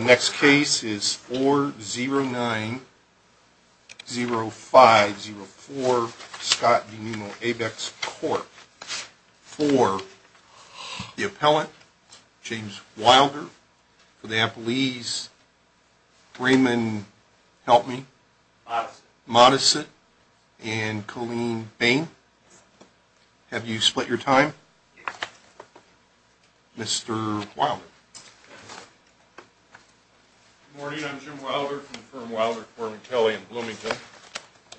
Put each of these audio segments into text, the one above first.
Next case is 4-0-9-0-5-0-4, Scott v. Pneumo Abex, Corp. For the appellant, James Wilder. For the appellees, Raymond, help me. Modisitt. Modisitt and Colleen Bain. Have you split your time? Mr. Wilder. Good morning, I'm Jim Wilder from the firm Wilder, Corbin, Kelly and Bloomington.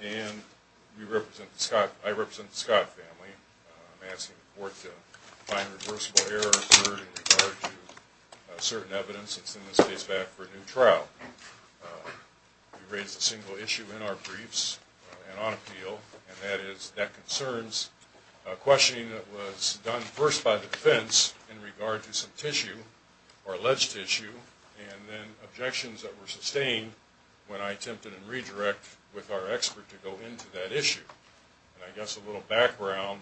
And I represent the Scott family. I'm asking the court to find a reversible error occurred in regard to certain evidence that sends this case back for a new trial. We raised a single issue in our briefs and on appeal, and that is that concerns a questioning that was done first by the defense in regard to some tissue, or alleged tissue, and then objections that were sustained when I attempted a redirect with our expert to go into that issue. And I guess a little background,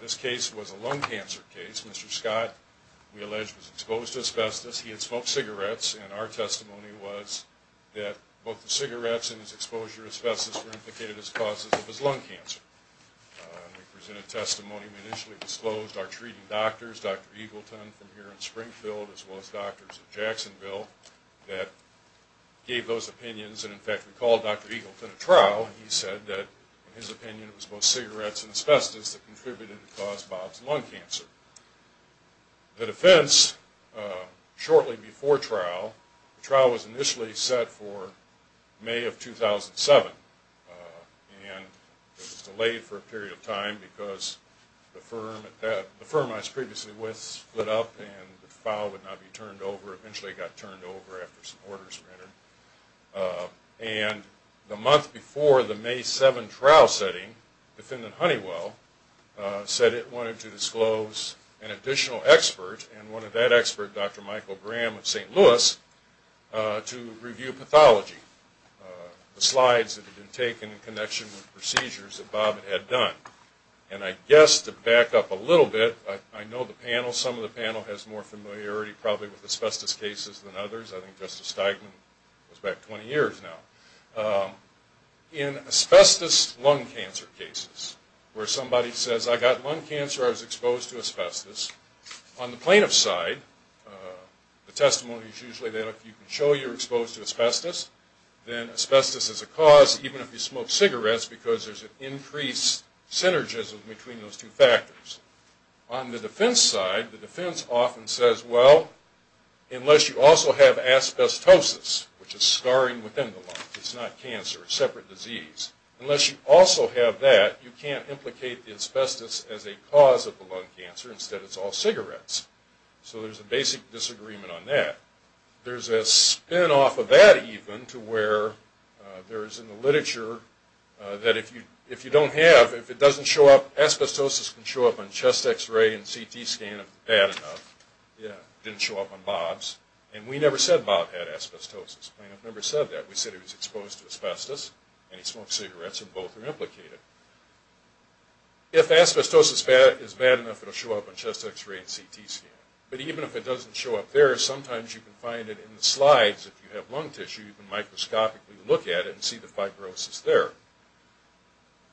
this case was a lung cancer case. Mr. Scott, we allege, was exposed to asbestos. He had smoked cigarettes, and our testimony was that both the cigarettes and his exposure to asbestos were implicated as causes of his lung cancer. We presented testimony. We initially disclosed our treating doctors, Dr. Eagleton from here in Springfield, as well as doctors in Jacksonville, that gave those opinions, and in fact, we called Dr. Eagleton at trial. He said that his opinion was both cigarettes and asbestos that contributed to cause Bob's lung cancer. The defense, shortly before trial, the trial was initially set for May of 2007, and it was delayed for a period of time because the firm I was previously with split up and the file would not be turned over. Eventually it got turned over after some orders were entered. And the month before the May 7 trial setting, defendant Honeywell said it wanted to disclose an additional expert, and one of that expert, Dr. Michael Graham of St. Louis, to review pathology, the slides that had been taken in connection with procedures that Bob had done. And I guess to back up a little bit, I know the panel, some of the panel has more familiarity probably with asbestos cases than others. I think Justice Steigman goes back 20 years now. In asbestos lung cancer cases, where somebody says, I got lung cancer, I was exposed to asbestos, on the plaintiff's side, the testimony is usually that if you can show you're exposed to asbestos, then asbestos is a cause, even if you smoke cigarettes, because there's an increased synergism between those two factors. On the defense side, the defense often says, well, unless you also have asbestosis, which is scarring within the lung, it's not cancer, it's a separate disease, unless you also have that, you can't implicate the asbestos as a cause of the lung cancer, instead it's all cigarettes. So there's a basic disagreement on that. There's a spin off of that even to where there is in the literature that if you don't have, if it doesn't show up, asbestosis can show up on chest x-ray and CT scan if it's bad enough. It didn't show up on Bob's. And we never said Bob had asbestosis. The plaintiff never said that. We said he was exposed to asbestos, and he smoked cigarettes, and both are implicated. If asbestosis is bad enough, it'll show up on chest x-ray and CT scan. But even if it doesn't show up there, sometimes you can find it in the slides. If you have lung tissue, you can microscopically look at it and see the fibrosis there.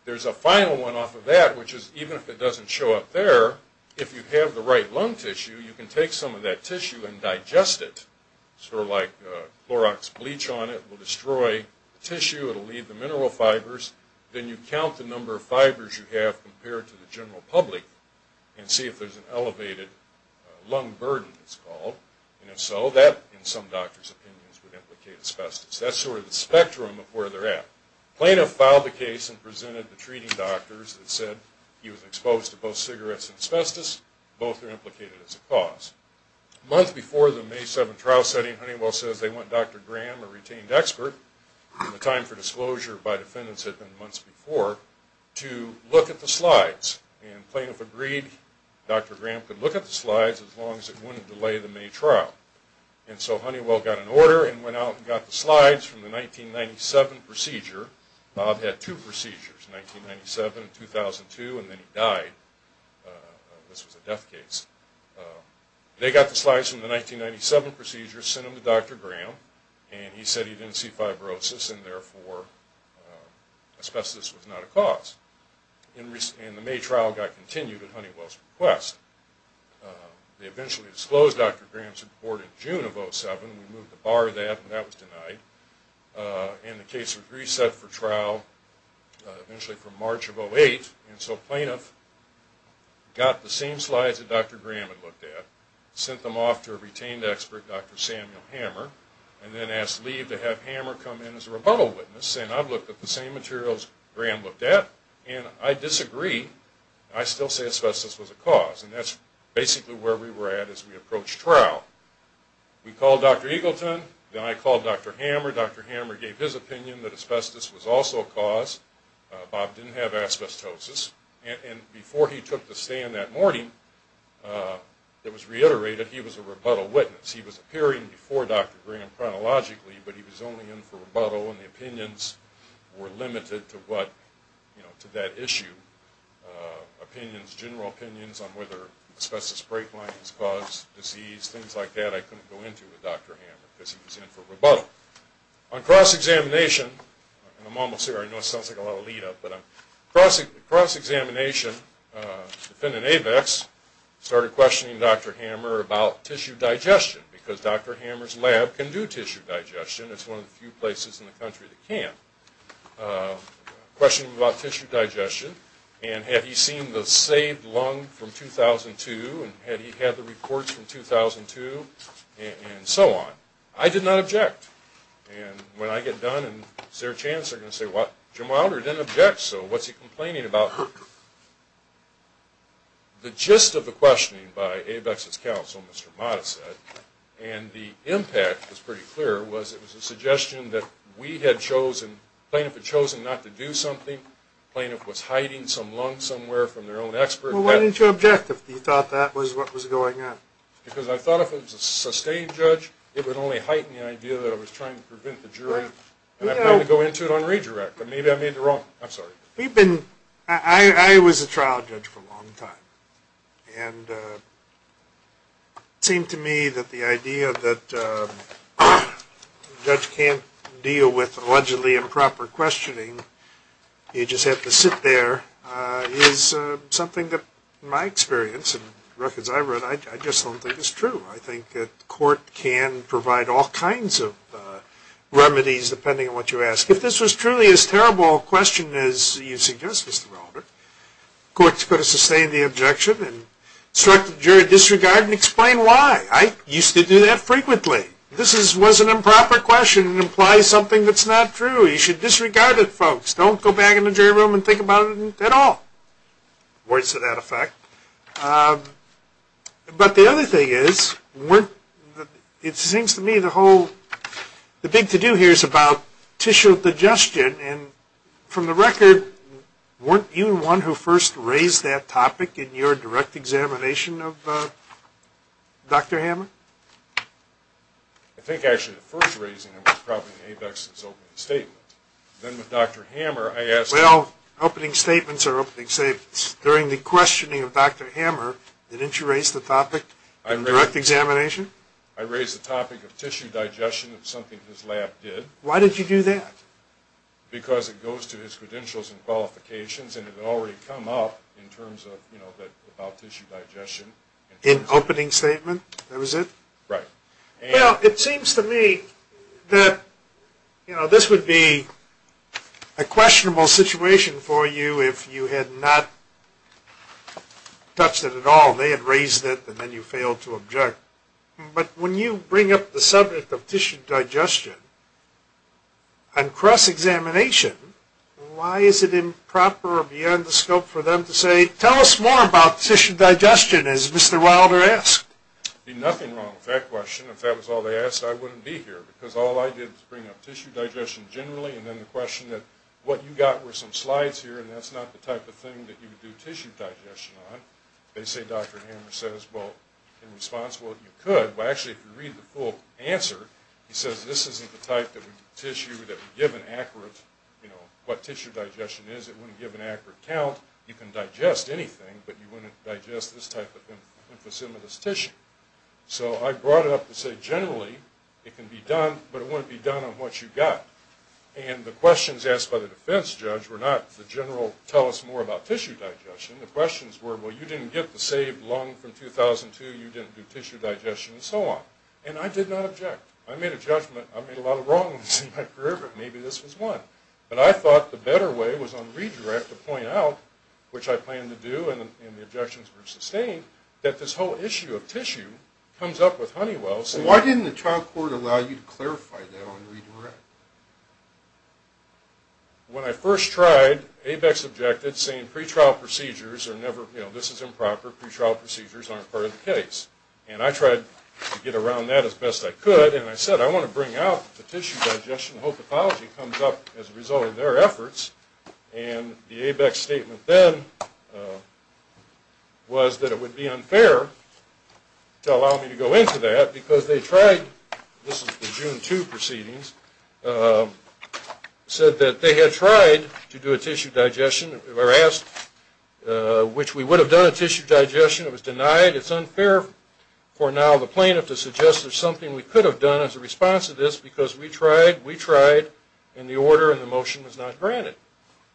There's a final one off of that, which is even if it doesn't show up there, if you have the right lung tissue, you can take some of that tissue and digest it. Sort of like Clorox bleach on it will destroy the tissue, it'll leave the mineral fibers. Then you count the number of fibers you have compared to the general public and see if there's an elevated lung burden, it's called. And if so, that in some doctors' opinions would implicate asbestos. That's sort of the spectrum of where they're at. Plaintiff filed the case and presented the treating doctors that said he was exposed to both cigarettes and asbestos, both are implicated as a cause. A month before the May 7 trial setting, Honeywell says they want Dr. Graham, a retained expert, and the time for disclosure by defendants had been months before, to look at the slides. And plaintiff agreed Dr. Graham could look at the slides as long as it wouldn't delay the May trial. And so Honeywell got an order and went out and got the slides from the 1997 procedure. Bob had two procedures, 1997 and 2002, and then he died. This was a death case. They got the slides from the 1997 procedure, sent them to Dr. Graham, and he said he didn't see fibrosis and therefore asbestos was not a cause. And the May trial got continued at Honeywell's request. They eventually disclosed Dr. Graham's report in June of 2007. We moved the bar of that and that was denied. And the case was reset for trial eventually from March of 2008. And so plaintiff got the same slides that Dr. Graham had looked at, sent them off to a retained expert, Dr. Samuel Hammer, and then asked leave to have Hammer come in as a rebuttal witness saying I've looked at the same materials Graham looked at and I disagree. I still say asbestos was a cause. And that's basically where we were at as we approached trial. We called Dr. Eagleton, then I called Dr. Hammer. Dr. Hammer gave his opinion that asbestos was also a cause. Bob didn't have asbestosis. And before he took the stand that morning, it was reiterated he was a rebuttal witness. He was appearing before Dr. Graham chronologically, but he was only in for rebuttal and the opinions were limited to that issue. Opinions, general opinions on whether asbestos break lines cause disease, things like that I couldn't go into with Dr. Hammer because he was in for rebuttal. On cross-examination, and I'm almost there, I know it sounds like a lot of lead up, but on cross-examination, defendant Avex started questioning Dr. Hammer about tissue digestion because Dr. Hammer's lab can do tissue digestion. It's one of the few places in the country that can. Questioning him about tissue digestion and had he seen the saved lung from 2002 and had he had the reports from 2002 and so on. I did not object. And when I get done and is there a chance they're going to say, well, Jim Wilder didn't object, so what's he complaining about? The gist of the questioning by Avex's counsel, Mr. Modisette, and the impact was pretty clear was it was a suggestion that we had chosen, plaintiff had chosen not to do something, plaintiff was hiding some lung somewhere from their own expert. Well, what is your objective? You thought that was what was going on? Because I thought if it was a sustained judge, it would only heighten the idea that I was trying to prevent the jury. And I plan to go into it on redirect. Maybe I made it wrong. I'm sorry. I was a trial judge for a long time. And it seemed to me that the idea that a judge can't deal with allegedly improper questioning, you just have to sit there, is something that in my experience and records I've read, I just don't think is true. I think that court can provide all kinds of remedies depending on what you ask. If this was truly as terrible a question as you suggest, Mr. Wilder, court's got to sustain the objection and instruct the jury, disregard and explain why. I used to do that frequently. If this was an improper question, it implies something that's not true. You should disregard it, folks. Don't go back in the jury room and think about it at all. Words to that effect. But the other thing is, it seems to me the whole, the big to do here is about tissue digestion. And from the record, weren't you the one who first raised that topic in your direct examination of Dr. Hammer? I think actually the first reason was probably ABEX's opening statement. Then with Dr. Hammer, I asked him. Well, opening statements are opening statements. During the questioning of Dr. Hammer, didn't you raise the topic in the direct examination? I raised the topic of tissue digestion, something his lab did. Why did you do that? Because it goes to his credentials and qualifications, and it had already come up in terms of about tissue digestion. In opening statement, that was it? Right. Well, it seems to me that this would be a questionable situation for you if you had not touched it at all. They had raised it, and then you failed to object. But when you bring up the subject of tissue digestion and cross-examination, why is it improper or beyond the scope for them to say, tell us more about tissue digestion, as Mr. Wilder asked? Nothing wrong with that question. If that was all they asked, I wouldn't be here, because all I did was bring up tissue digestion generally, and then the question that what you got were some slides here, and that's not the type of thing that you would do tissue digestion on. They say, Dr. Hammer says, well, in response, well, you could. Well, actually, if you read the full answer, he says this isn't the type of tissue that would give an accurate, you know, what tissue digestion is. It wouldn't give an accurate count. You can digest anything, but you wouldn't digest this type of emphysematous tissue. So I brought it up to say generally it can be done, but it wouldn't be done on what you got. And the questions asked by the defense judge were not, the general, tell us more about tissue digestion. The questions were, well, you didn't get the saved lung from 2002. You didn't do tissue digestion, and so on. And I did not object. I made a judgment. I made a lot of wrongs in my career, but maybe this was one. But I thought the better way was on redirect to point out, which I planned to do and the objections were sustained, that this whole issue of tissue comes up with Honeywell. So why didn't the trial court allow you to clarify that on redirect? When I first tried, ABEX objected saying pre-trial procedures are never, you know, this is improper. Pre-trial procedures aren't part of the case. And I tried to get around that as best I could, and I said I want to bring out the tissue digestion, the whole pathology comes up as a result of their efforts. And the ABEX statement then was that it would be unfair to allow me to go into that because they tried, this is the June 2 proceedings, said that they had tried to do a tissue digestion, which we would have done a tissue digestion. It was denied. It's unfair for now the plaintiff to suggest there's something we could have done as a response to this because we tried, we tried, and the order and the motion was not granted.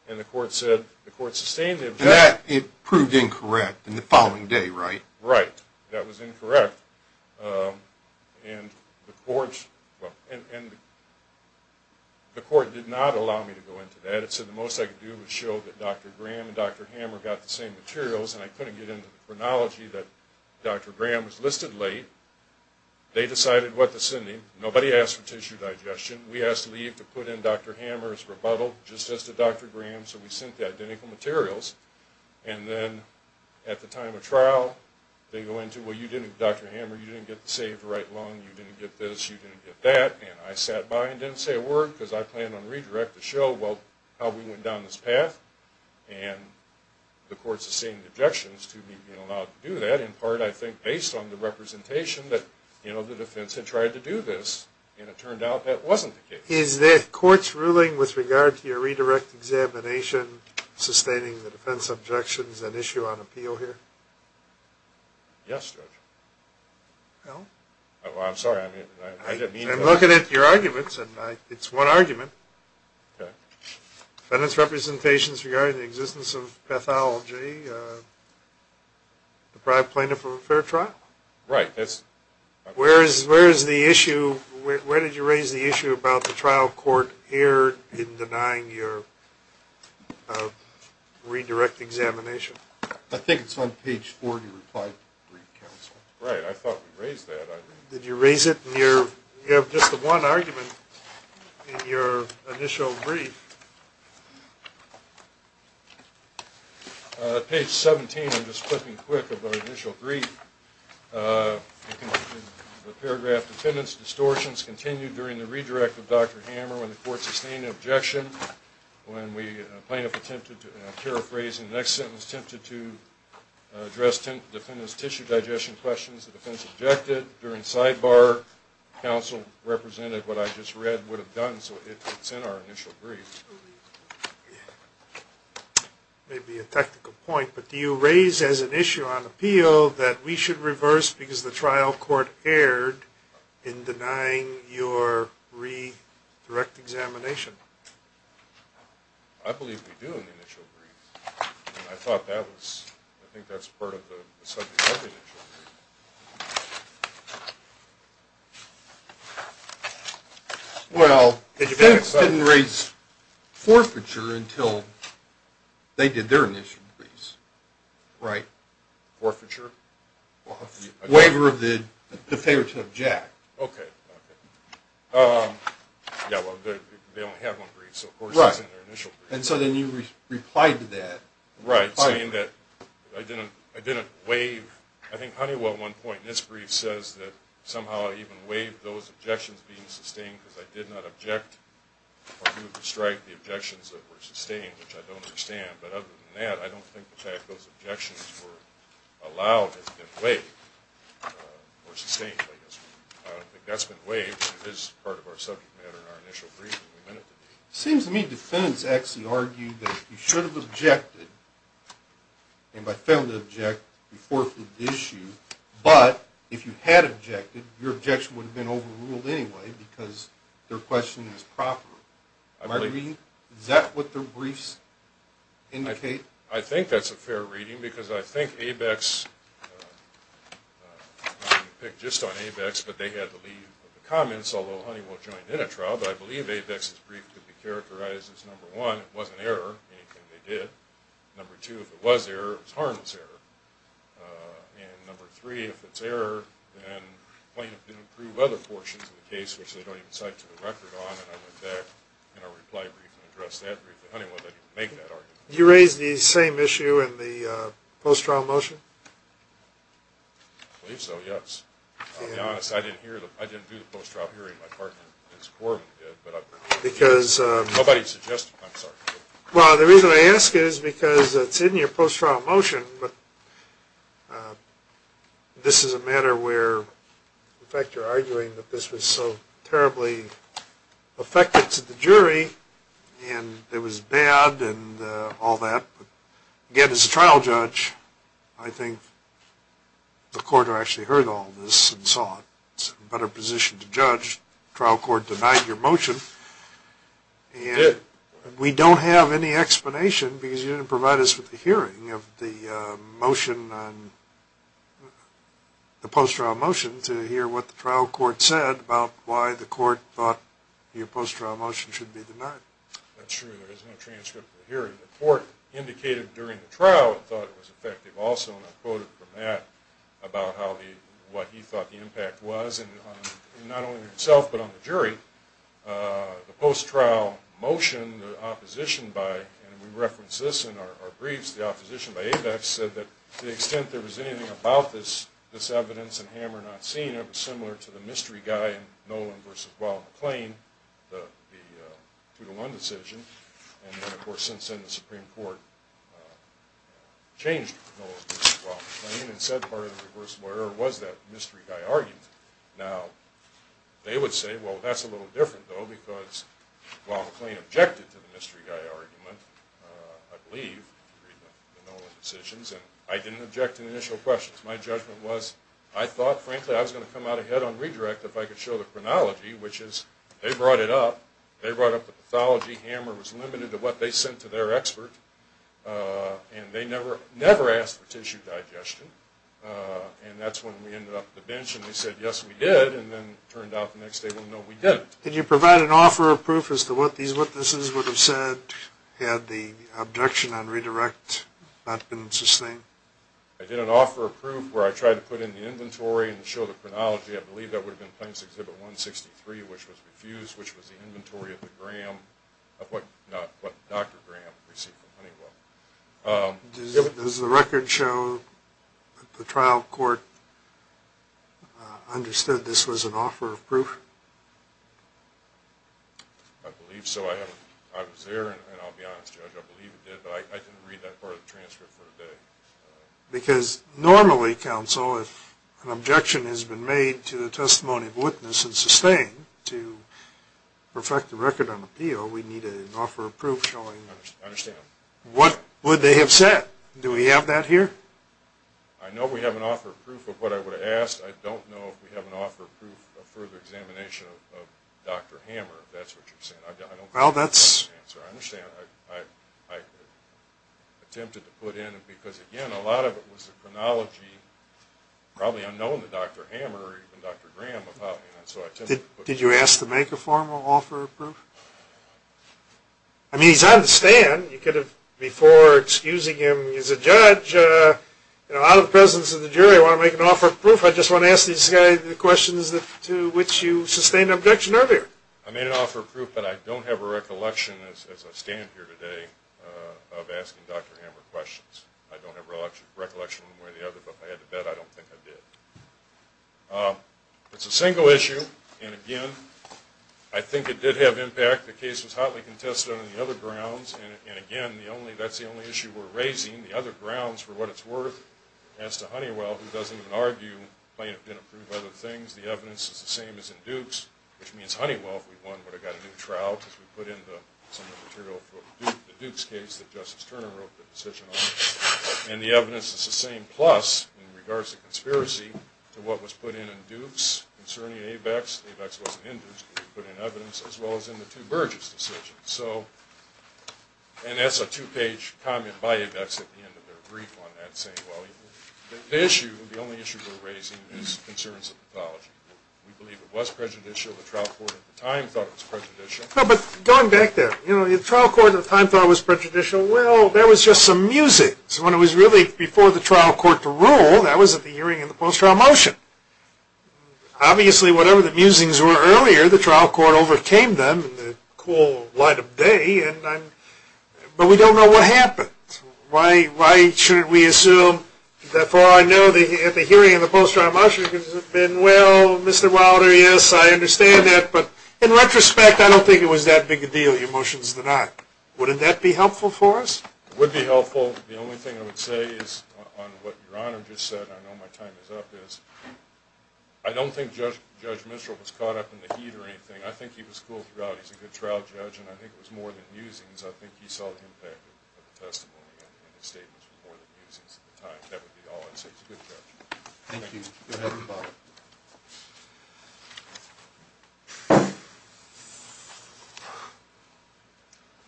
And the court said, the court sustained the objection. And that proved incorrect in the following day, right? That was incorrect. And the court, well, and the court did not allow me to go into that. It said the most I could do was show that Dr. Graham and Dr. Hammer got the same materials, and I couldn't get into the chronology that Dr. Graham was listed late. They decided what to send him. Nobody asked for tissue digestion. We asked leave to put in Dr. Hammer's rebuttal just as to Dr. Graham, so we sent the identical materials. And then at the time of trial, they go into, well, you didn't, Dr. Hammer, you didn't get the saved right lung. You didn't get this. You didn't get that. And I sat by and didn't say a word because I planned on redirect to show, well, how we went down this path. And the court sustained objections to me being allowed to do that, in part, I think, based on the representation that, you know, And it turned out that wasn't the case. Is the court's ruling with regard to your redirect examination sustaining the defense objections and issue on appeal here? Yes, Judge. Well? I'm sorry. I didn't mean to. I'm looking at your arguments, and it's one argument. Okay. Defendant's representations regarding the existence of pathology deprived plaintiff of a fair trial. Right. Where is the issue? Where did you raise the issue about the trial court here in denying your redirect examination? I think it's on page four of your reply to the brief, counsel. Right. I thought we raised that. Did you raise it? You have just the one argument in your initial brief. Page 17, I'm just flipping quick of our initial brief. The paragraph, defendant's distortions continued during the redirect of Dr. Hammer when the court sustained an objection. When the plaintiff attempted to paraphrase the next sentence, attempted to address defendant's tissue digestion questions, the defense objected. During sidebar, counsel represented what I just read would have done, so it's in our initial brief. Maybe a technical point, but do you raise as an issue on appeal that we should reverse because the trial court erred in denying your redirect examination? I believe we do in the initial brief, and I think that's part of the subject of the initial brief. Well, the defense didn't raise forfeiture until they did their initial briefs, right? Forfeiture? Waiver of the favor to object. Okay. Yeah, well, they only have one brief, so of course it's in their initial brief. Right, and so then you replied to that. Right, saying that I didn't waive. I think Honeywell, at one point in this brief, says that somehow I even waived those objections being sustained because I did not object or move to strike the objections that were sustained, which I don't understand. But other than that, I don't think the fact those objections were allowed has been waived or sustained, I guess. I don't think that's been waived. It is part of our subject matter in our initial brief. It seems to me defendants actually argued that you should have objected, and by failing to object, you forfeited the issue. But if you had objected, your objection would have been overruled anyway because their question is proper. Am I agreeing? Is that what their briefs indicate? I think that's a fair reading, because I think ABEX, I didn't pick just on ABEX, but they had to leave the comments, although Honeywell joined in a trial, but I believe ABEX's brief could be characterized as, number one, it wasn't error, anything they did. Number two, if it was error, it was harmless error. And number three, if it's error, then plaintiff didn't prove other portions of the case, which they don't even cite to the record on, and I went back in our reply brief and addressed that brief. But Honeywell didn't make that argument. Did you raise the same issue in the post-trial motion? I believe so, yes. I'll be honest. I didn't do the post-trial hearing. My partner, Ms. Corwin, did. Nobody suggested, I'm sorry. Well, the reason I ask is because it's in your post-trial motion, but this is a matter where, in fact, you're arguing that this was so terribly affected to the jury, and it was bad and all that. Again, as a trial judge, I think the court actually heard all this and saw it. It's a better position to judge. The trial court denied your motion. It did. We don't have any explanation, because you didn't provide us with the hearing of the motion, the post-trial motion, to hear what the trial court said about why the court thought your post-trial motion should be denied. That's true. There is no transcript of the hearing. The court indicated during the trial it thought it was effective also, and I quoted from that about what he thought the impact was, not only on himself, but on the jury. The post-trial motion, the opposition by, and we referenced this in our briefs, the opposition by ABEX, said that to the extent there was anything about this evidence and Hammer not seen, it was similar to the mystery guy in Nolan v. Wild McLean, the 2-1 decision. And then, of course, since then, the Supreme Court changed Nolan v. Wild McLean and said part of the reversible error was that mystery guy argued. Now, they would say, well, that's a little different, though, because Wild McLean objected to the mystery guy argument, I believe, in the Nolan decisions, and I didn't object to the initial questions. My judgment was I thought, frankly, I was going to come out ahead on redirect if I could show the chronology, which is they brought it up. They brought up the pathology. Hammer was limited to what they sent to their expert. And they never asked for tissue digestion. And that's when we ended up at the bench and they said, yes, we did, and then it turned out the next day, well, no, we didn't. Did you provide an offer of proof as to what these witnesses would have said had the objection on redirect not been sustained? I did an offer of proof where I tried to put in the inventory and show the chronology. I believe that would have been Plaintiffs' Exhibit 163, which was refused, which was the inventory of what Dr. Graham received from Honeywell. Does the record show the trial court understood this was an offer of proof? I believe so. I was there, and I'll be honest, Judge, I believe it did, but I didn't read that part of the transcript for today. Because normally, Counsel, if an objection has been made to the testimony of a witness and sustained, to perfect the record on appeal, we need an offer of proof showing What would they have said? Do we have that here? I know we have an offer of proof of what I would have asked. I don't know if we have an offer of proof of further examination of Dr. Hammer, if that's what you're saying. Well, that's... I understand. I attempted to put in, because, again, a lot of it was the chronology, probably unknown to Dr. Hammer or even Dr. Graham. Did you ask to make a formal offer of proof? I mean, he's out of the stand. You could have, before excusing him, as a judge, out of the presence of the jury, want to make an offer of proof. I just want to ask these guys the questions to which you sustained an objection earlier. I made an offer of proof, but I don't have a recollection, as I stand here today, of asking Dr. Hammer questions. I don't have recollection one way or the other, but if I had to bet, I don't think I did. It's a single issue, and, again, I think it did have impact. The case was hotly contested on the other grounds, and, again, that's the only issue we're raising, the other grounds for what it's worth. As to Honeywell, who doesn't even argue, plaintiff didn't prove other things. The evidence is the same as in Dukes, which means Honeywell, if we won, would have got a new trial, because we put in some of the material for the Dukes case that Justice Turner wrote the decision on. And the evidence is the same. Plus, in regards to conspiracy, to what was put in in Dukes concerning ABEX, ABEX wasn't in Dukes, but we put in evidence, as well as in the two Burgess decisions. So, and that's a two-page comment by ABEX at the end of their brief on that, saying, well, the issue, the only issue we're raising is concerns of pathology. We believe it was prejudicial. The trial court at the time thought it was prejudicial. But going back there, you know, the trial court at the time thought it was prejudicial. Well, there was just some music. So when it was really before the trial court to rule, that was at the hearing in the post-trial motion. Obviously, whatever the musings were earlier, the trial court overcame them in the cool light of day. But we don't know what happened. Why shouldn't we assume, that far I know, at the hearing in the post-trial motion, has it been, well, Mr. Wilder, yes, I understand that, but in retrospect, I don't think it was that big a deal, your motions did not. Wouldn't that be helpful for us? It would be helpful. The only thing I would say is, on what Your Honor just said, and I know my time is up, is, I don't think Judge Mistral was caught up in the heat or anything. I think he was cool throughout. He's a good trial judge, and I think it was more than musings. I think he saw the impact of the testimony and his statements were more than musings at the time. That would be all I'd say. He's a good judge. Thank you. Go ahead, Your Honor.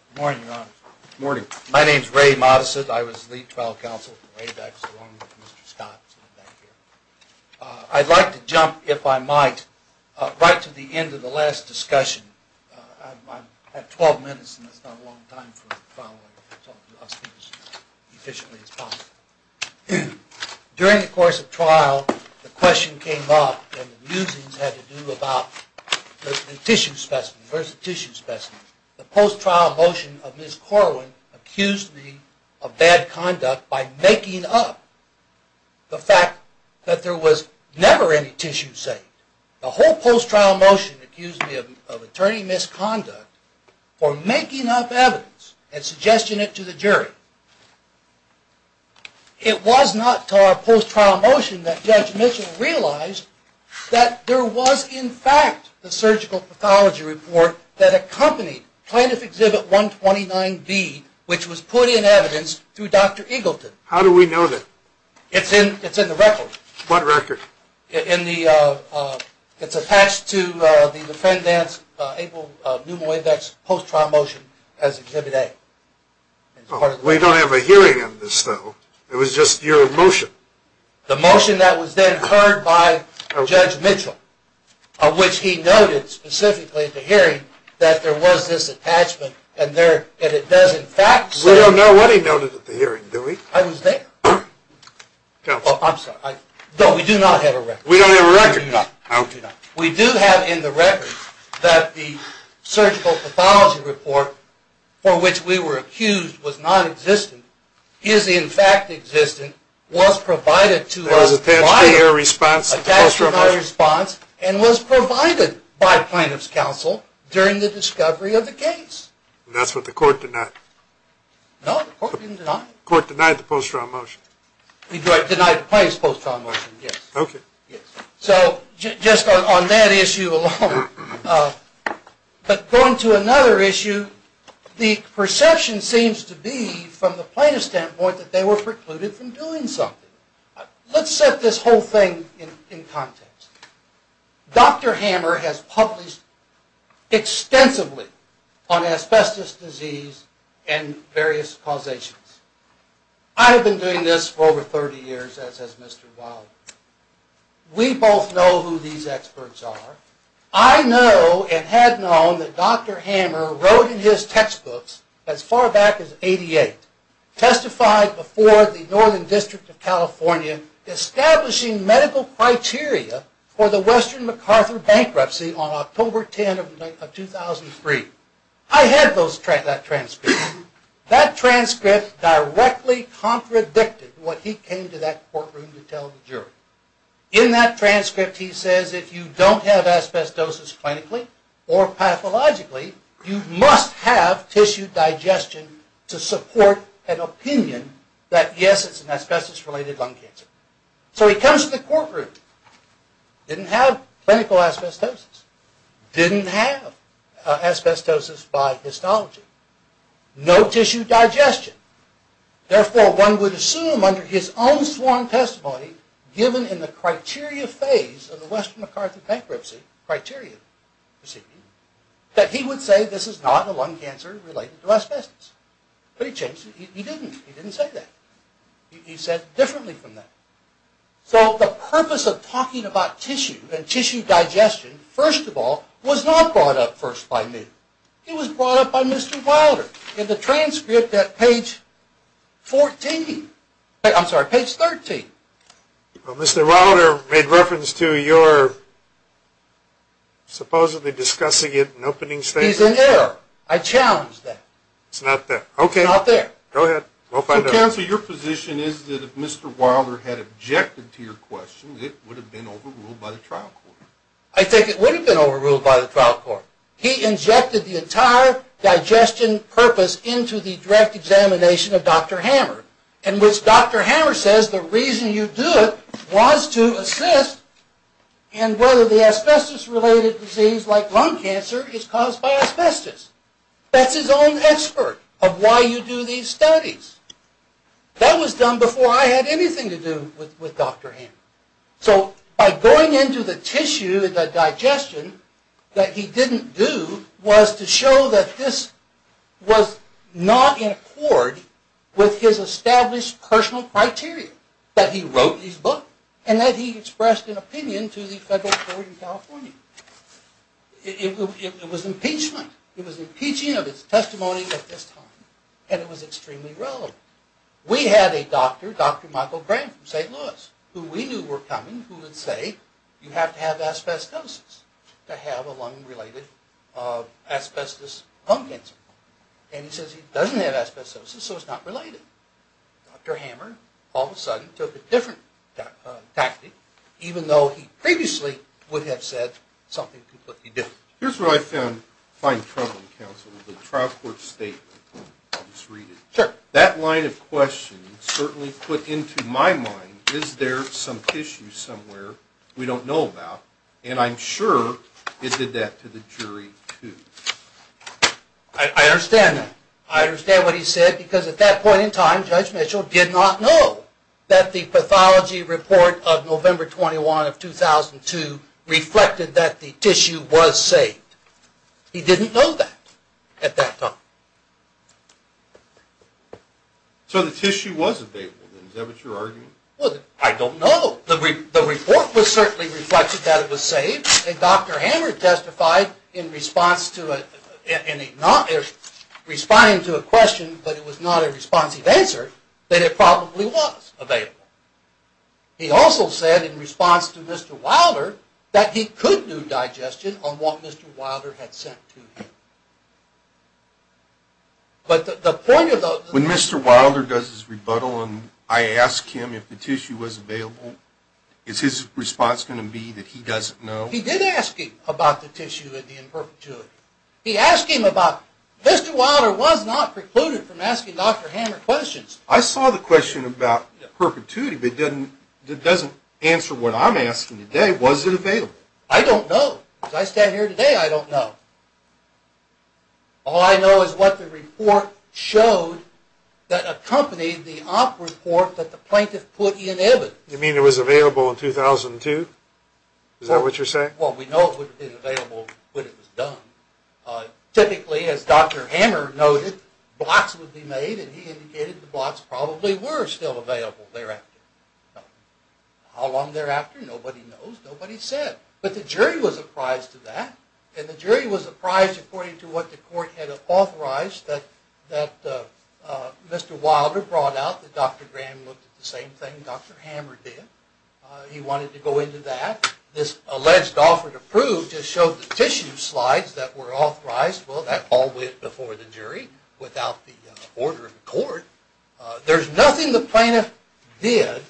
Good morning, Your Honor. Good morning. My name's Ray Modisitt. I was the lead trial counsel from way back as long as Mr. Scott. I'd like to jump, if I might, right to the end of the last discussion. I have 12 minutes, and that's not a long time for a follow-up, so I'll speak as efficiently as possible. During the course of trial, the question came up, and the musings had to do about the tissue specimen, versus tissue specimen. The post-trial motion of Ms. Corwin accused me of bad conduct by making up the fact that there was never any tissue saved. The whole post-trial motion accused me of attorney misconduct for making up evidence and suggesting it to the jury. It was not until our post-trial motion that Judge Mitchell realized that there was, in fact, the surgical pathology report that accompanied Plaintiff Exhibit 129B, which was put in evidence through Dr. Eagleton. How do we know that? It's in the record. What record? It's attached to the Defendant's Able Pneumoindex post-trial motion as Exhibit A. We don't have a hearing on this, though. It was just your motion. The motion that was then heard by Judge Mitchell, of which he noted specifically at the hearing that there was this attachment, and it does in fact say... We don't know what he noted at the hearing, do we? I was there. I'm sorry. No, we do not have a record. We don't have a record? No, we do not. We do have in the record that the surgical pathology report for which we were accused was non-existent is in fact existent, was provided to us by... It was attached to your response to the post-trial motion? Attached to my response and was provided by Plaintiff's Counsel during the discovery of the case. And that's what the court denied? No, the court didn't deny it. The court denied the post-trial motion? The court denied the plaintiff's post-trial motion, yes. Okay. So, just on that issue alone. But going to another issue, the perception seems to be from the plaintiff's standpoint that they were precluded from doing something. Let's set this whole thing in context. Dr. Hammer has published extensively on asbestos disease and various causations. I have been doing this for over 30 years as has Mr. Wilder. We both know who these experts are. I know and had known that Dr. Hammer wrote in his textbooks as far back as 88, testified before the Northern District of California establishing medical criteria for the Western MacArthur bankruptcy on October 10 of 2003. I had that transcript. That transcript directly contradicted what he came to that courtroom to tell the jury. In that transcript he says if you don't have asbestosis clinically or pathologically, you must have tissue digestion to support an opinion that yes, it's an asbestos related lung cancer. So he comes to the courtroom, didn't have clinical asbestosis, didn't have asbestosis by histology, no tissue digestion. Therefore one would assume under his own sworn testimony given in the criteria phase of the Western MacArthur bankruptcy criteria that he would say this is not a lung cancer related to asbestos. But he didn't. He didn't say that. He said differently from that. So the purpose of talking about tissue and tissue digestion, first of all, was not brought up first by me. It was brought up by Mr. Wilder in the transcript at page 14. I'm sorry, page 13. Well Mr. Wilder made reference to your supposedly discussing it in opening statements. He's in error. I challenge that. It's not there. Okay. It's not there. Go ahead. Counsel, your position is that if Mr. Wilder had objected to your question it would have been overruled by the trial court. I think it would have been overruled by the trial court. He injected the entire digestion purpose into the direct examination of Dr. Hammer in which Dr. Hammer says the reason you do it was to assist in whether the asbestos related disease like lung cancer is caused by asbestos. That's his own expert of why you do these studies. That was done before I had anything to do with Dr. Hammer. So by going into the tissue, the digestion that he didn't do was to show that this was not in accord with his established personal criteria that he wrote his book and that he expressed an opinion to the federal court in California. It was impeachment. It was impeaching of his testimony at this time and it was extremely relevant. We had a doctor, Dr. Michael Graham from St. Louis who we knew were coming who would say you have to have asbestosis to have a lung related asbestos lung cancer. And he says he doesn't have asbestosis so it's not related. Dr. Hammer all of a sudden took a different tactic even though he previously would have said something completely different. Here's where I find trouble, Counselor. The trial court statement. I'll just read it. Sure. That line of questioning certainly put into my mind is there some tissue somewhere we don't know about and I'm sure it did that to the jury too. I understand that. I understand what he said because at that point in time Judge Mitchell did not know that the pathology report of November 21 of 2002 reflected that the tissue was saved. He didn't know that at that time. So the tissue was available then. Is that what you're arguing? I don't know. The report certainly reflected that it was saved and Dr. Hammer testified in response to a question but it was not a responsive answer that it probably was available. He also said in response to Mr. Wilder that he could do digestion on what Mr. Wilder had sent to him. But the point of the... When Mr. Wilder does his rebuttal and I ask him if the tissue was available is his response going to be that he doesn't know? He did ask him about the tissue in perpetuity. He asked him about... Mr. Wilder was not precluded from asking Dr. Hammer questions. I saw the question about perpetuity but it doesn't answer what I'm asking today. Was it available? I don't know. As I stand here today, I don't know. All I know is what the report showed that accompanied the op report that the plaintiff put in evidence. You mean it was available in 2002? Is that what you're saying? Well, we know it would have been available when it was done. Typically, as Dr. Hammer noted, blocks would be made and he indicated the blocks probably were still available thereafter. How long thereafter? Nobody knows. Nobody said. But the jury was apprised of that and the jury was apprised according to what the court had authorized that Mr. Wilder brought out that Dr. Graham looked at the same thing Dr. Hammer did. He wanted to go into that. This alleged offer to prove just showed the tissue slides that were authorized. Well, that all went before the jury without the order of the court. There's nothing the plaintiff did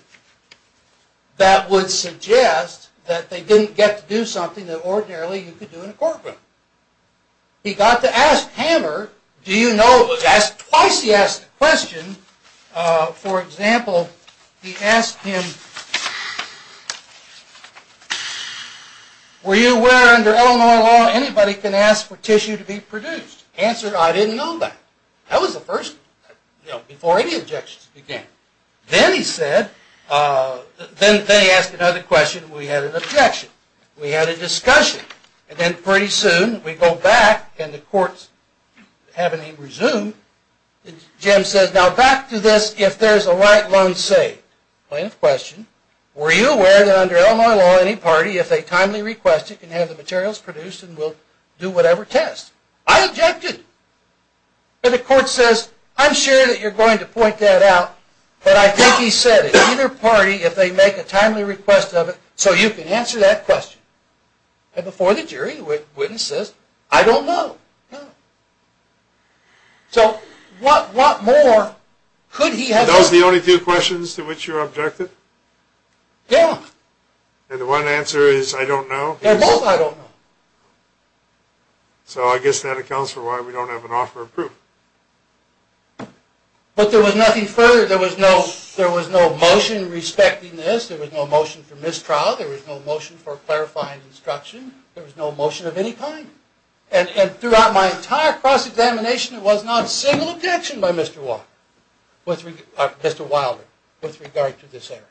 that would suggest that they didn't get to do something that ordinarily you could do in a courtroom. He got to ask Hammer, do you know, twice he asked the question. For example, he asked him, were you aware under Illinois law anybody can ask for tissue to be produced? Answer, I didn't know that. That was the first, you know, before any objections began. Then he said, then he asked another question. We had an objection. We had a discussion. And then pretty soon we go back and the courts haven't even resumed. Jim says, now back to this, if there's a right loan saved. Plaintiff's question, were you aware that under Illinois law any party, if they timely request it, can have the materials produced and will do whatever test? I objected. And the court says, I'm sure that you're going to point that out. But I think he said, either party, if they make a timely request of it, so you can answer that question. And before the jury, the witness says, I don't know. So, what more could he have done? And those are the only two questions to which you objected? Yeah. And the one answer is, I don't know. And both, I don't know. So, I guess that accounts for why we don't have an offer of proof. But there was nothing further. There was no motion respecting this. There was no motion for mistrial. There was no motion for clarifying instruction. There was no motion of any kind. And throughout my entire cross-examination, it was not a single objection by Mr. Walker. Mr. Wilder, with regard to this area.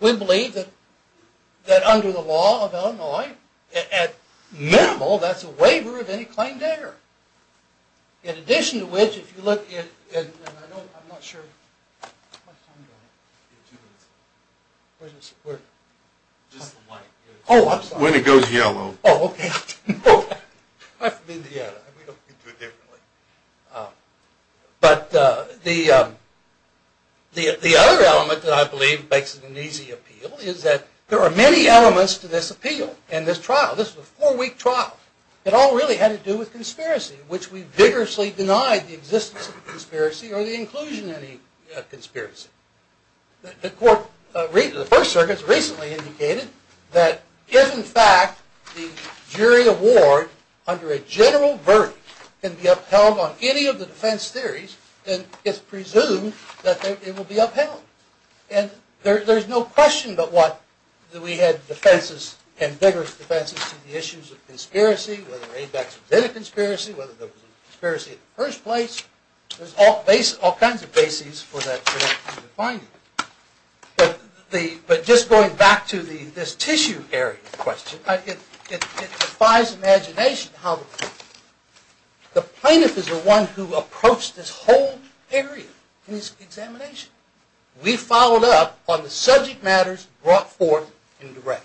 We believe that under the law of Illinois, at minimal, that's a waiver of any claim to error. In addition to which, if you look at, and I'm not sure, where is it? Just the white. Oh, I'm sorry. When it goes yellow. Oh, okay. I'm from Indiana. We do it differently. But the other element that I believe makes it an easy appeal is that there are many elements to this appeal and this trial. This was a four-week trial. It all really had to do with conspiracy, which we vigorously denied the existence of conspiracy or the inclusion of any conspiracy. The First Circuit has recently indicated that if, in fact, the jury award under a general verdict can be upheld on any of the defense theories, then it's presumed that it will be upheld. And there's no question but what that we had defenses and vigorous defenses to the issues of conspiracy, whether ABEX was in a conspiracy, whether there was a conspiracy in the first place. There's all kinds of bases for that to be defined. But just going back to this tissue area question, it defies imagination how the plaintiff is the one who approached this whole area in his examination. We followed up on the subject matters brought forth in the rec.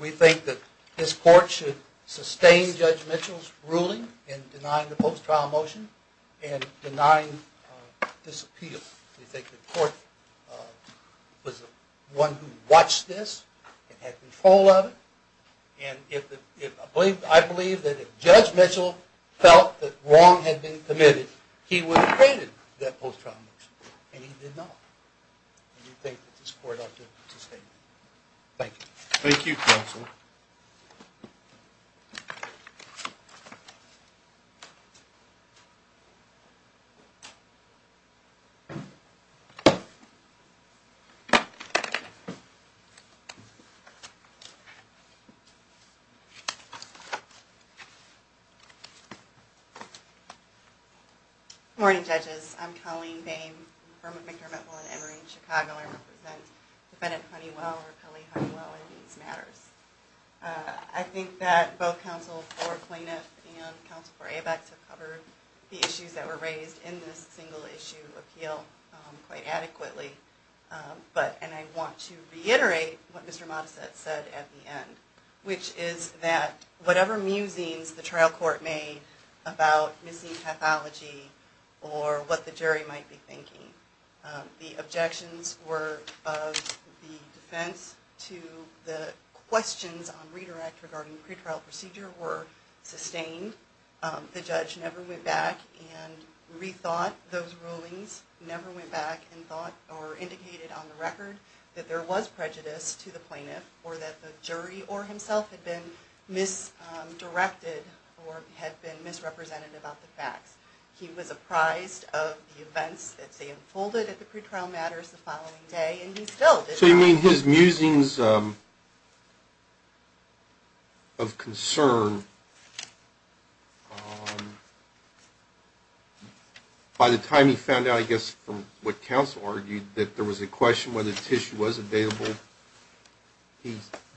We think that this court should sustain Judge Mitchell's ruling in denying the post-trial motion and denying this appeal. We think the court was the one who watched this and had control of it. And I believe that if Judge Mitchell felt that wrong had been committed, he would have created that post-trial motion and he did not. We think that this court ought to sustain it. Thank you. Thank you, counsel. Good morning, judges. I'm Colleen Boehm. I'm from Victor-Midwell & Emory in Chicago. I represent Defendant Honeywell or Kelly Honeywell in these matters. I think that both counsel for plaintiff and counsel for ABEX have covered the issues and counsel for ABEX have covered the issues that were raised in this single-issue appeal. Quite adequately. And I want to reiterate what Mr. Modisette said at the end, which is that whatever musings the trial court made about missing pathology or what the jury might be thinking, the objections were of the defense to the questions on redirect regarding pretrial procedure The judge never went back and rethought those rulings, never went back and thought or indicated on the record that there was prejudice to the plaintiff or that the jury or himself had been misdirected or had been misrepresented about the facts. He was apprised of the events that unfolded at the pretrial matters the following day and he still did not... So you mean his musings of concern, by the time he found out, I guess, from what counsel argued, that there was a question whether tissue was available,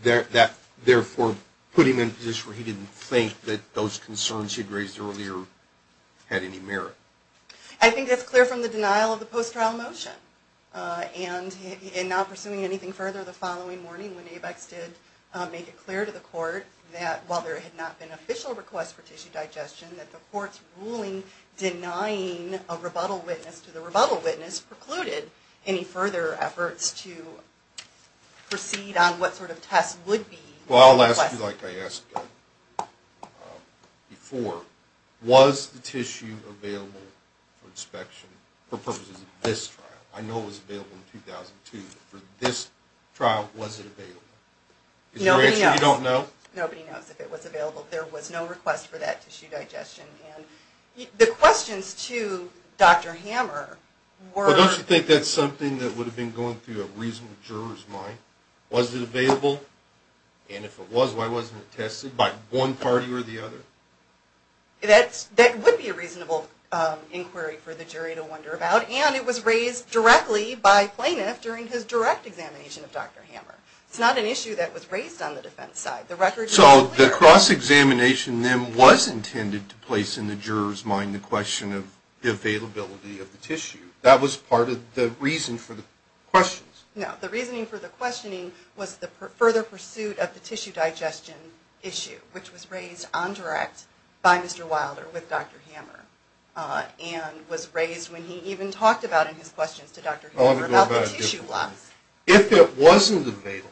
that therefore put him in a position where he didn't think that those concerns he'd raised earlier had any merit? I think that's clear from the denial of the post-trial motion and not pursuing anything further the following morning when ABEX did make it clear to the court that while there had not been an official request for tissue digestion, that the court's ruling denying a rebuttal witness to the rebuttal witness precluded any further efforts to proceed on what sort of test would be... Well, I'll ask you like I asked before. Was the tissue available for inspection for purposes of this trial? I know it was available in 2002, but for this trial, was it available? Is your answer you don't know? Nobody knows if it was available. There was no request for that tissue digestion. The questions to Dr. Hammer were... Don't you think that's something that would have been going through a reasonable juror's mind? Was it available, and if it was, why wasn't it tested by one party or the other? That would be a reasonable inquiry for the jury to wonder about, and it was raised directly by plaintiff during his direct examination of Dr. Hammer. It's not an issue that was raised on the defense side. So the cross-examination then was intended to place in the juror's mind the question of the availability of the tissue. That was part of the reason for the questions. No, the reasoning for the questioning was the further pursuit of the tissue digestion issue, which was raised on direct by Mr. Wilder with Dr. Hammer, and was raised when he even talked about in his questions to Dr. Hammer about the tissue loss. If it wasn't available,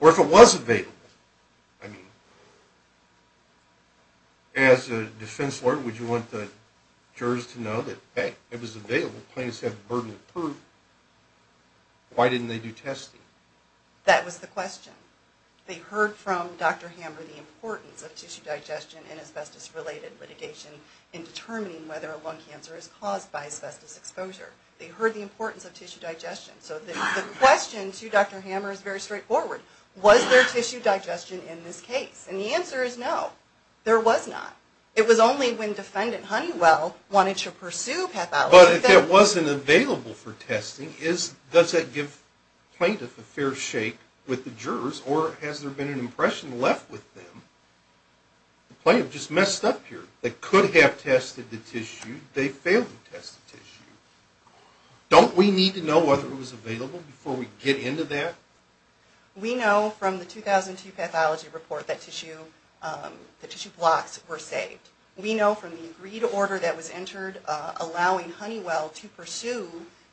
or if it was available, I mean, as a defense lawyer, would you want the jurors to know that, hey, it was available, plaintiffs had the burden of proof, why didn't they do testing? That was the question. They heard from Dr. Hammer the importance of tissue digestion and asbestos-related litigation in determining whether a lung cancer is caused by asbestos exposure. They heard the importance of tissue digestion. So the question to Dr. Hammer is very straightforward. Was there tissue digestion in this case? And the answer is no, there was not. It was only when defendant Honeywell wanted to pursue pathology. But if it wasn't available for testing, does that give plaintiff a fair shake with the jurors, or has there been an impression left with them? The plaintiff just messed up here. They could have tested the tissue, they failed to test the tissue. Don't we need to know whether it was available before we get into that? We know from the 2002 pathology report that tissue blocks were saved. We know from the agreed order that was entered allowing Honeywell to pursue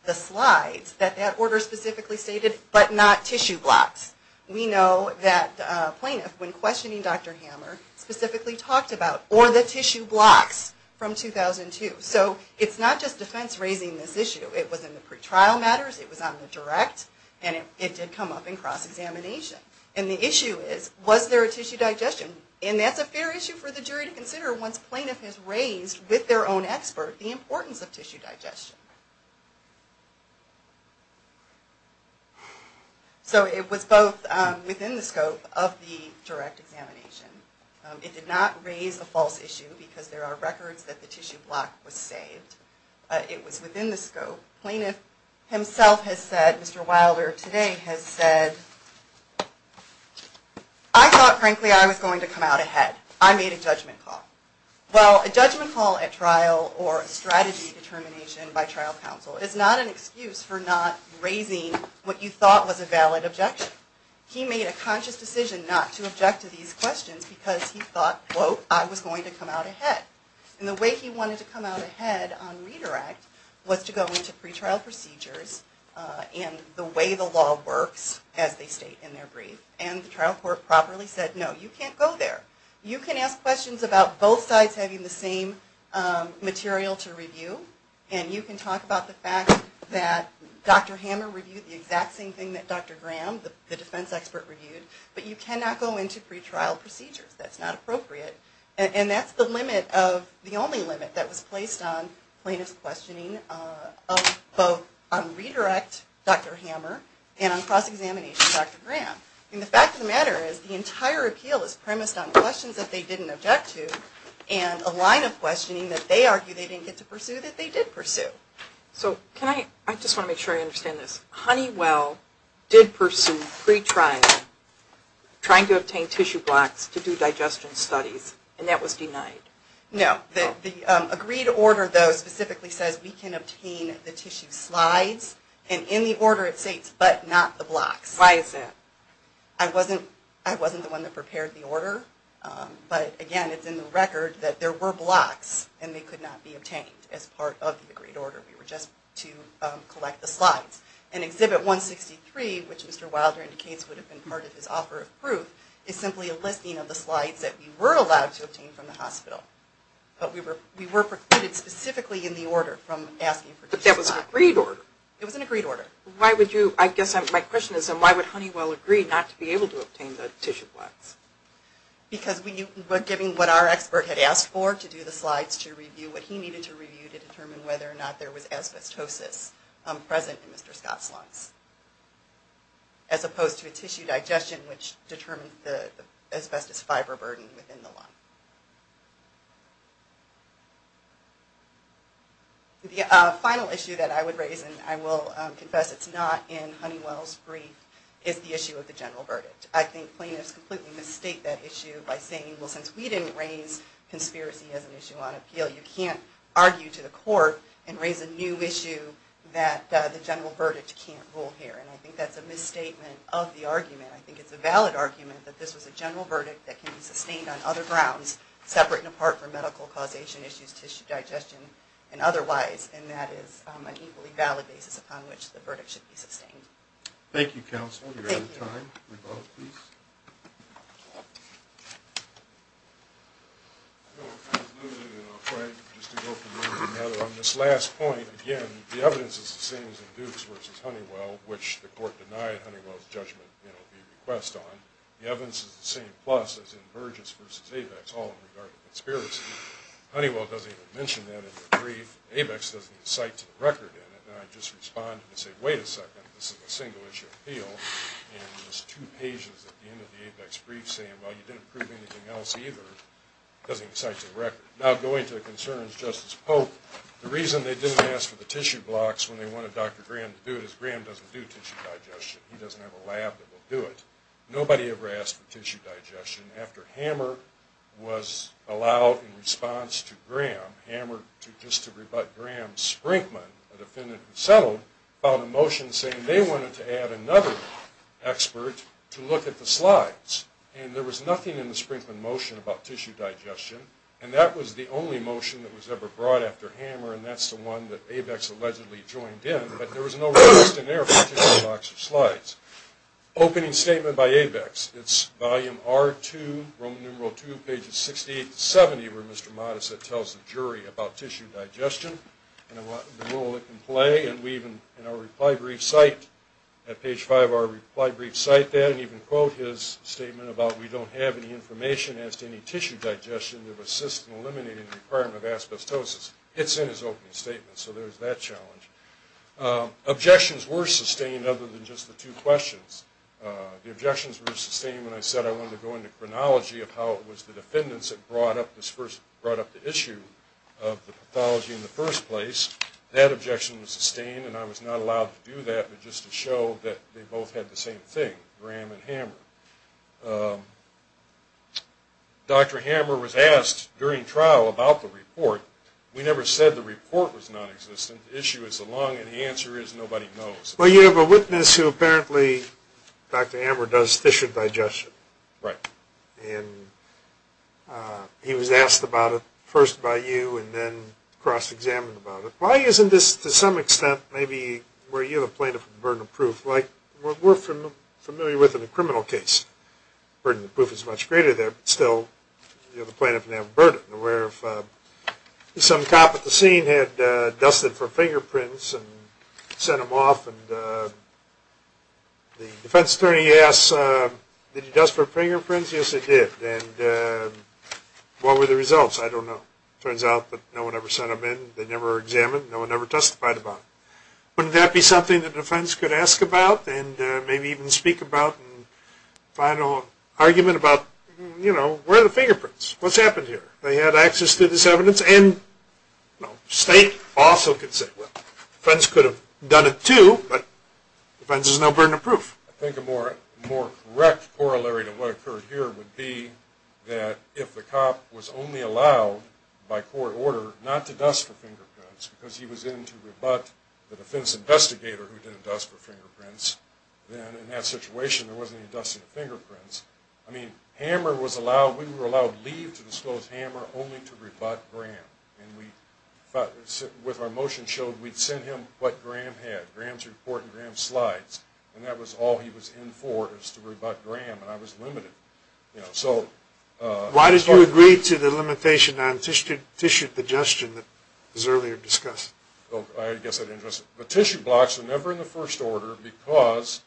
the slides that that order specifically stated, but not tissue blocks. We know that plaintiff, when questioning Dr. Hammer, specifically talked about, or the tissue blocks from 2002. So it's not just defense raising this issue. It was in the pretrial matters, it was on the direct, and it did come up in cross-examination. And the issue is, was there a tissue digestion? And that's a fair issue for the jury to consider once plaintiff has raised with their own expert the importance of tissue digestion. So it was both within the scope of the direct examination. It did not raise a false issue because there are records that the tissue block was saved. It was within the scope. Plaintiff himself has said, Mr. Wilder today has said, I thought, frankly, I was going to come out ahead. I made a judgment call. Well, a judgment call at trial or a strategy determination by trial counsel is not an excuse for not raising what you thought was a valid objection. He made a conscious decision not to object to these questions because he thought, quote, I was going to come out ahead. And the way he wanted to come out ahead on redirect was to go into pretrial procedures and the way the law works as they state in their brief. And the trial court properly said, no, you can't go there. You can ask questions about both sides having the same material to review and you can talk about the fact that Dr. Hammer reviewed the exact same thing that Dr. Graham, the defense expert, reviewed. But you cannot go into pretrial procedures. That's not appropriate. And that's the only limit that was placed on plaintiff's questioning of both on redirect Dr. Hammer and on cross-examination Dr. Graham. And the fact of the matter is the entire appeal is premised on questions that they didn't object to and a line of questioning that they argued they didn't get to pursue that they did pursue. I just want to make sure I understand this. Honeywell did pursue pretrial trying to obtain tissue blocks to do digestion studies and that was denied? No. The agreed order, though, specifically says we can obtain the tissue slides and in the order it states but not the blocks. Why is that? I wasn't the one that prepared the order. But, again, it's in the record that there were blocks and they could not be obtained as part of the agreed order. We were just to collect the slides. And Exhibit 163, which Mr. Wilder indicates would have been part of his offer of proof, is simply a listing of the slides that we were allowed to obtain from the hospital. But we were precluded specifically in the order from asking for tissue slides. But that was an agreed order. It was an agreed order. I guess my question is then why would Honeywell agree not to be able to obtain the tissue blocks? Because we were given what our expert had asked for to do the slides to review what he needed to review to determine whether or not there was asbestosis present in Mr. Scott's lungs. As opposed to a tissue digestion which determined the asbestos fiber burden within the lung. The final issue that I would raise, and I will confess it's not in Honeywell's brief, is the issue of the general verdict. I think plaintiffs completely mistake that issue by saying, well, since we didn't raise conspiracy as an issue on appeal, you can't argue to the court and raise a new issue that the general verdict can't rule here. And I think that's a misstatement of the argument. I think it's a valid argument that this was a general verdict that can be sustained on other grounds, separate and apart from medical causation issues, tissue digestion, and otherwise. And that is an equally valid basis upon which the verdict should be sustained. Thank you, counsel. We're out of time. Rebuttal, please. I was a little bit afraid, just to go from one to another. On this last point, again, the evidence is the same as in Dukes v. Honeywell, which the court denied Honeywell's judgment would be a request on. The evidence is the same plus as in Burgess v. Abex, all in regard to conspiracy. Honeywell doesn't even mention that in the brief. Abex doesn't incite to the record in it. And I just respond and say, wait a second, this is a single-issue appeal, and there's two pages at the end of the Abex brief saying, well, you didn't prove anything else either. It doesn't incite to the record. Now, going to the concerns of Justice Polk, the reason they didn't ask for the tissue blocks when they wanted Dr. Graham to do it is Graham doesn't do tissue digestion. He doesn't have a lab that will do it. Nobody ever asked for tissue digestion after Hammer was allowed in response to Graham, Hammer just to rebut Graham, Sprinkman, a defendant who settled, filed a motion saying they wanted to add another expert to look at the slides. And there was nothing in the Sprinkman motion about tissue digestion, and that was the only motion that was ever brought after Hammer, and that's the one that Abex allegedly joined in. But there was no request in there for tissue blocks or slides. Opening statement by Abex, it's volume R2, Roman numeral 2, pages 68 to 70, where Mr. Modisette tells the jury about tissue digestion and the role it can play. And we even, in our reply brief site, at page 5 of our reply brief, cite that and even quote his statement about, we don't have any information as to any tissue digestion to assist in eliminating the requirement of asbestosis. It's in his opening statement, so there's that challenge. Objections were sustained other than just the two questions. The objections were sustained when I said I wanted to go into chronology of how it was the defendants that brought up the issue of the pathology in the first place. That objection was sustained, and I was not allowed to do that, but just to show that they both had the same thing, Graham and Hammer. Dr. Hammer was asked during trial about the report, we never said the report was nonexistent, the issue is the lung, and the answer is nobody knows. Well, you have a witness who apparently, Dr. Hammer, does tissue digestion. Right. And he was asked about it first by you and then cross-examined about it. Why isn't this, to some extent, maybe where you're the plaintiff with the burden of proof, like what we're familiar with in the criminal case? The burden of proof is much greater there, but still, you're the plaintiff and have a burden. Some cop at the scene had dusted for fingerprints and sent them off, and the defense attorney asks, did he dust for fingerprints? Yes, he did. And what were the results? I don't know. It turns out that no one ever sent them in. They never were examined. No one ever testified about it. Wouldn't that be something the defense could ask about and maybe even speak about? Final argument about, you know, where are the fingerprints? What's happened here? They had access to this evidence and, you know, the state also could say, well, the defense could have done it too, but the defense has no burden of proof. I think a more correct corollary to what occurred here would be that if the cop was only allowed, by court order, not to dust for fingerprints because he was in to rebut the defense investigator who didn't dust for fingerprints, then in that situation there wasn't any dusting of fingerprints. I mean, hammer was allowed. We were allowed leave to disclose hammer only to rebut Graham. And we, with our motion showed, we'd send him what Graham had, Graham's report and Graham's slides, and that was all he was in for was to rebut Graham, and I was limited. Why did you agree to the limitation on tissue digestion that was earlier discussed? I guess I didn't. The tissue blocks are never in the first order because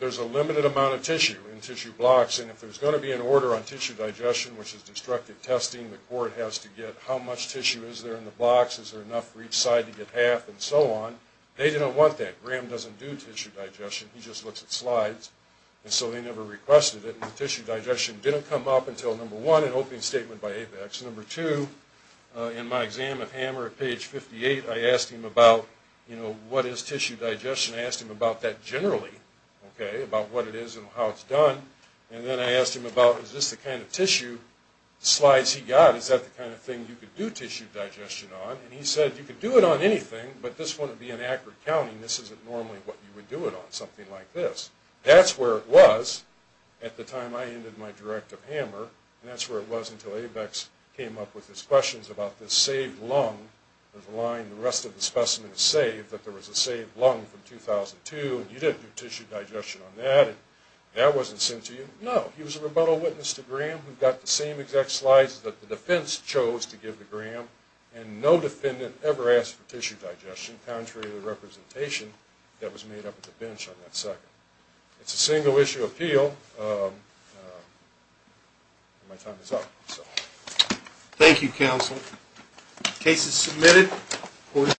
there's a limited amount of tissue in tissue blocks, and if there's going to be an order on tissue digestion, which is destructive testing, the court has to get how much tissue is there in the blocks, is there enough for each side to get half, and so on. They didn't want that. Graham doesn't do tissue digestion. He just looks at slides, and so they never requested it, and the tissue digestion didn't come up until, number one, an opening statement by Apex. Number two, in my exam of hammer at page 58, I asked him about, you know, what is tissue digestion. I asked him about that generally, okay, about what it is and how it's done, and then I asked him about is this the kind of tissue slides he got, is that the kind of thing you could do tissue digestion on, and he said you could do it on anything, but this wouldn't be an accurate counting. This isn't normally what you would do it on, something like this. That's where it was at the time I ended my directive hammer, and that's where it was until Apex came up with his questions about the saved lung, the line the rest of the specimen is saved, that there was a saved lung from 2002, and you didn't do tissue digestion on that, and that wasn't sent to you. No, he was a rebuttal witness to Graham who got the same exact slides that the defense chose to give to Graham, and no defendant ever asked for tissue digestion, contrary to the representation that was made up at the bench on that second. It's a single-issue appeal. My time is up. Thank you, counsel. Case is submitted.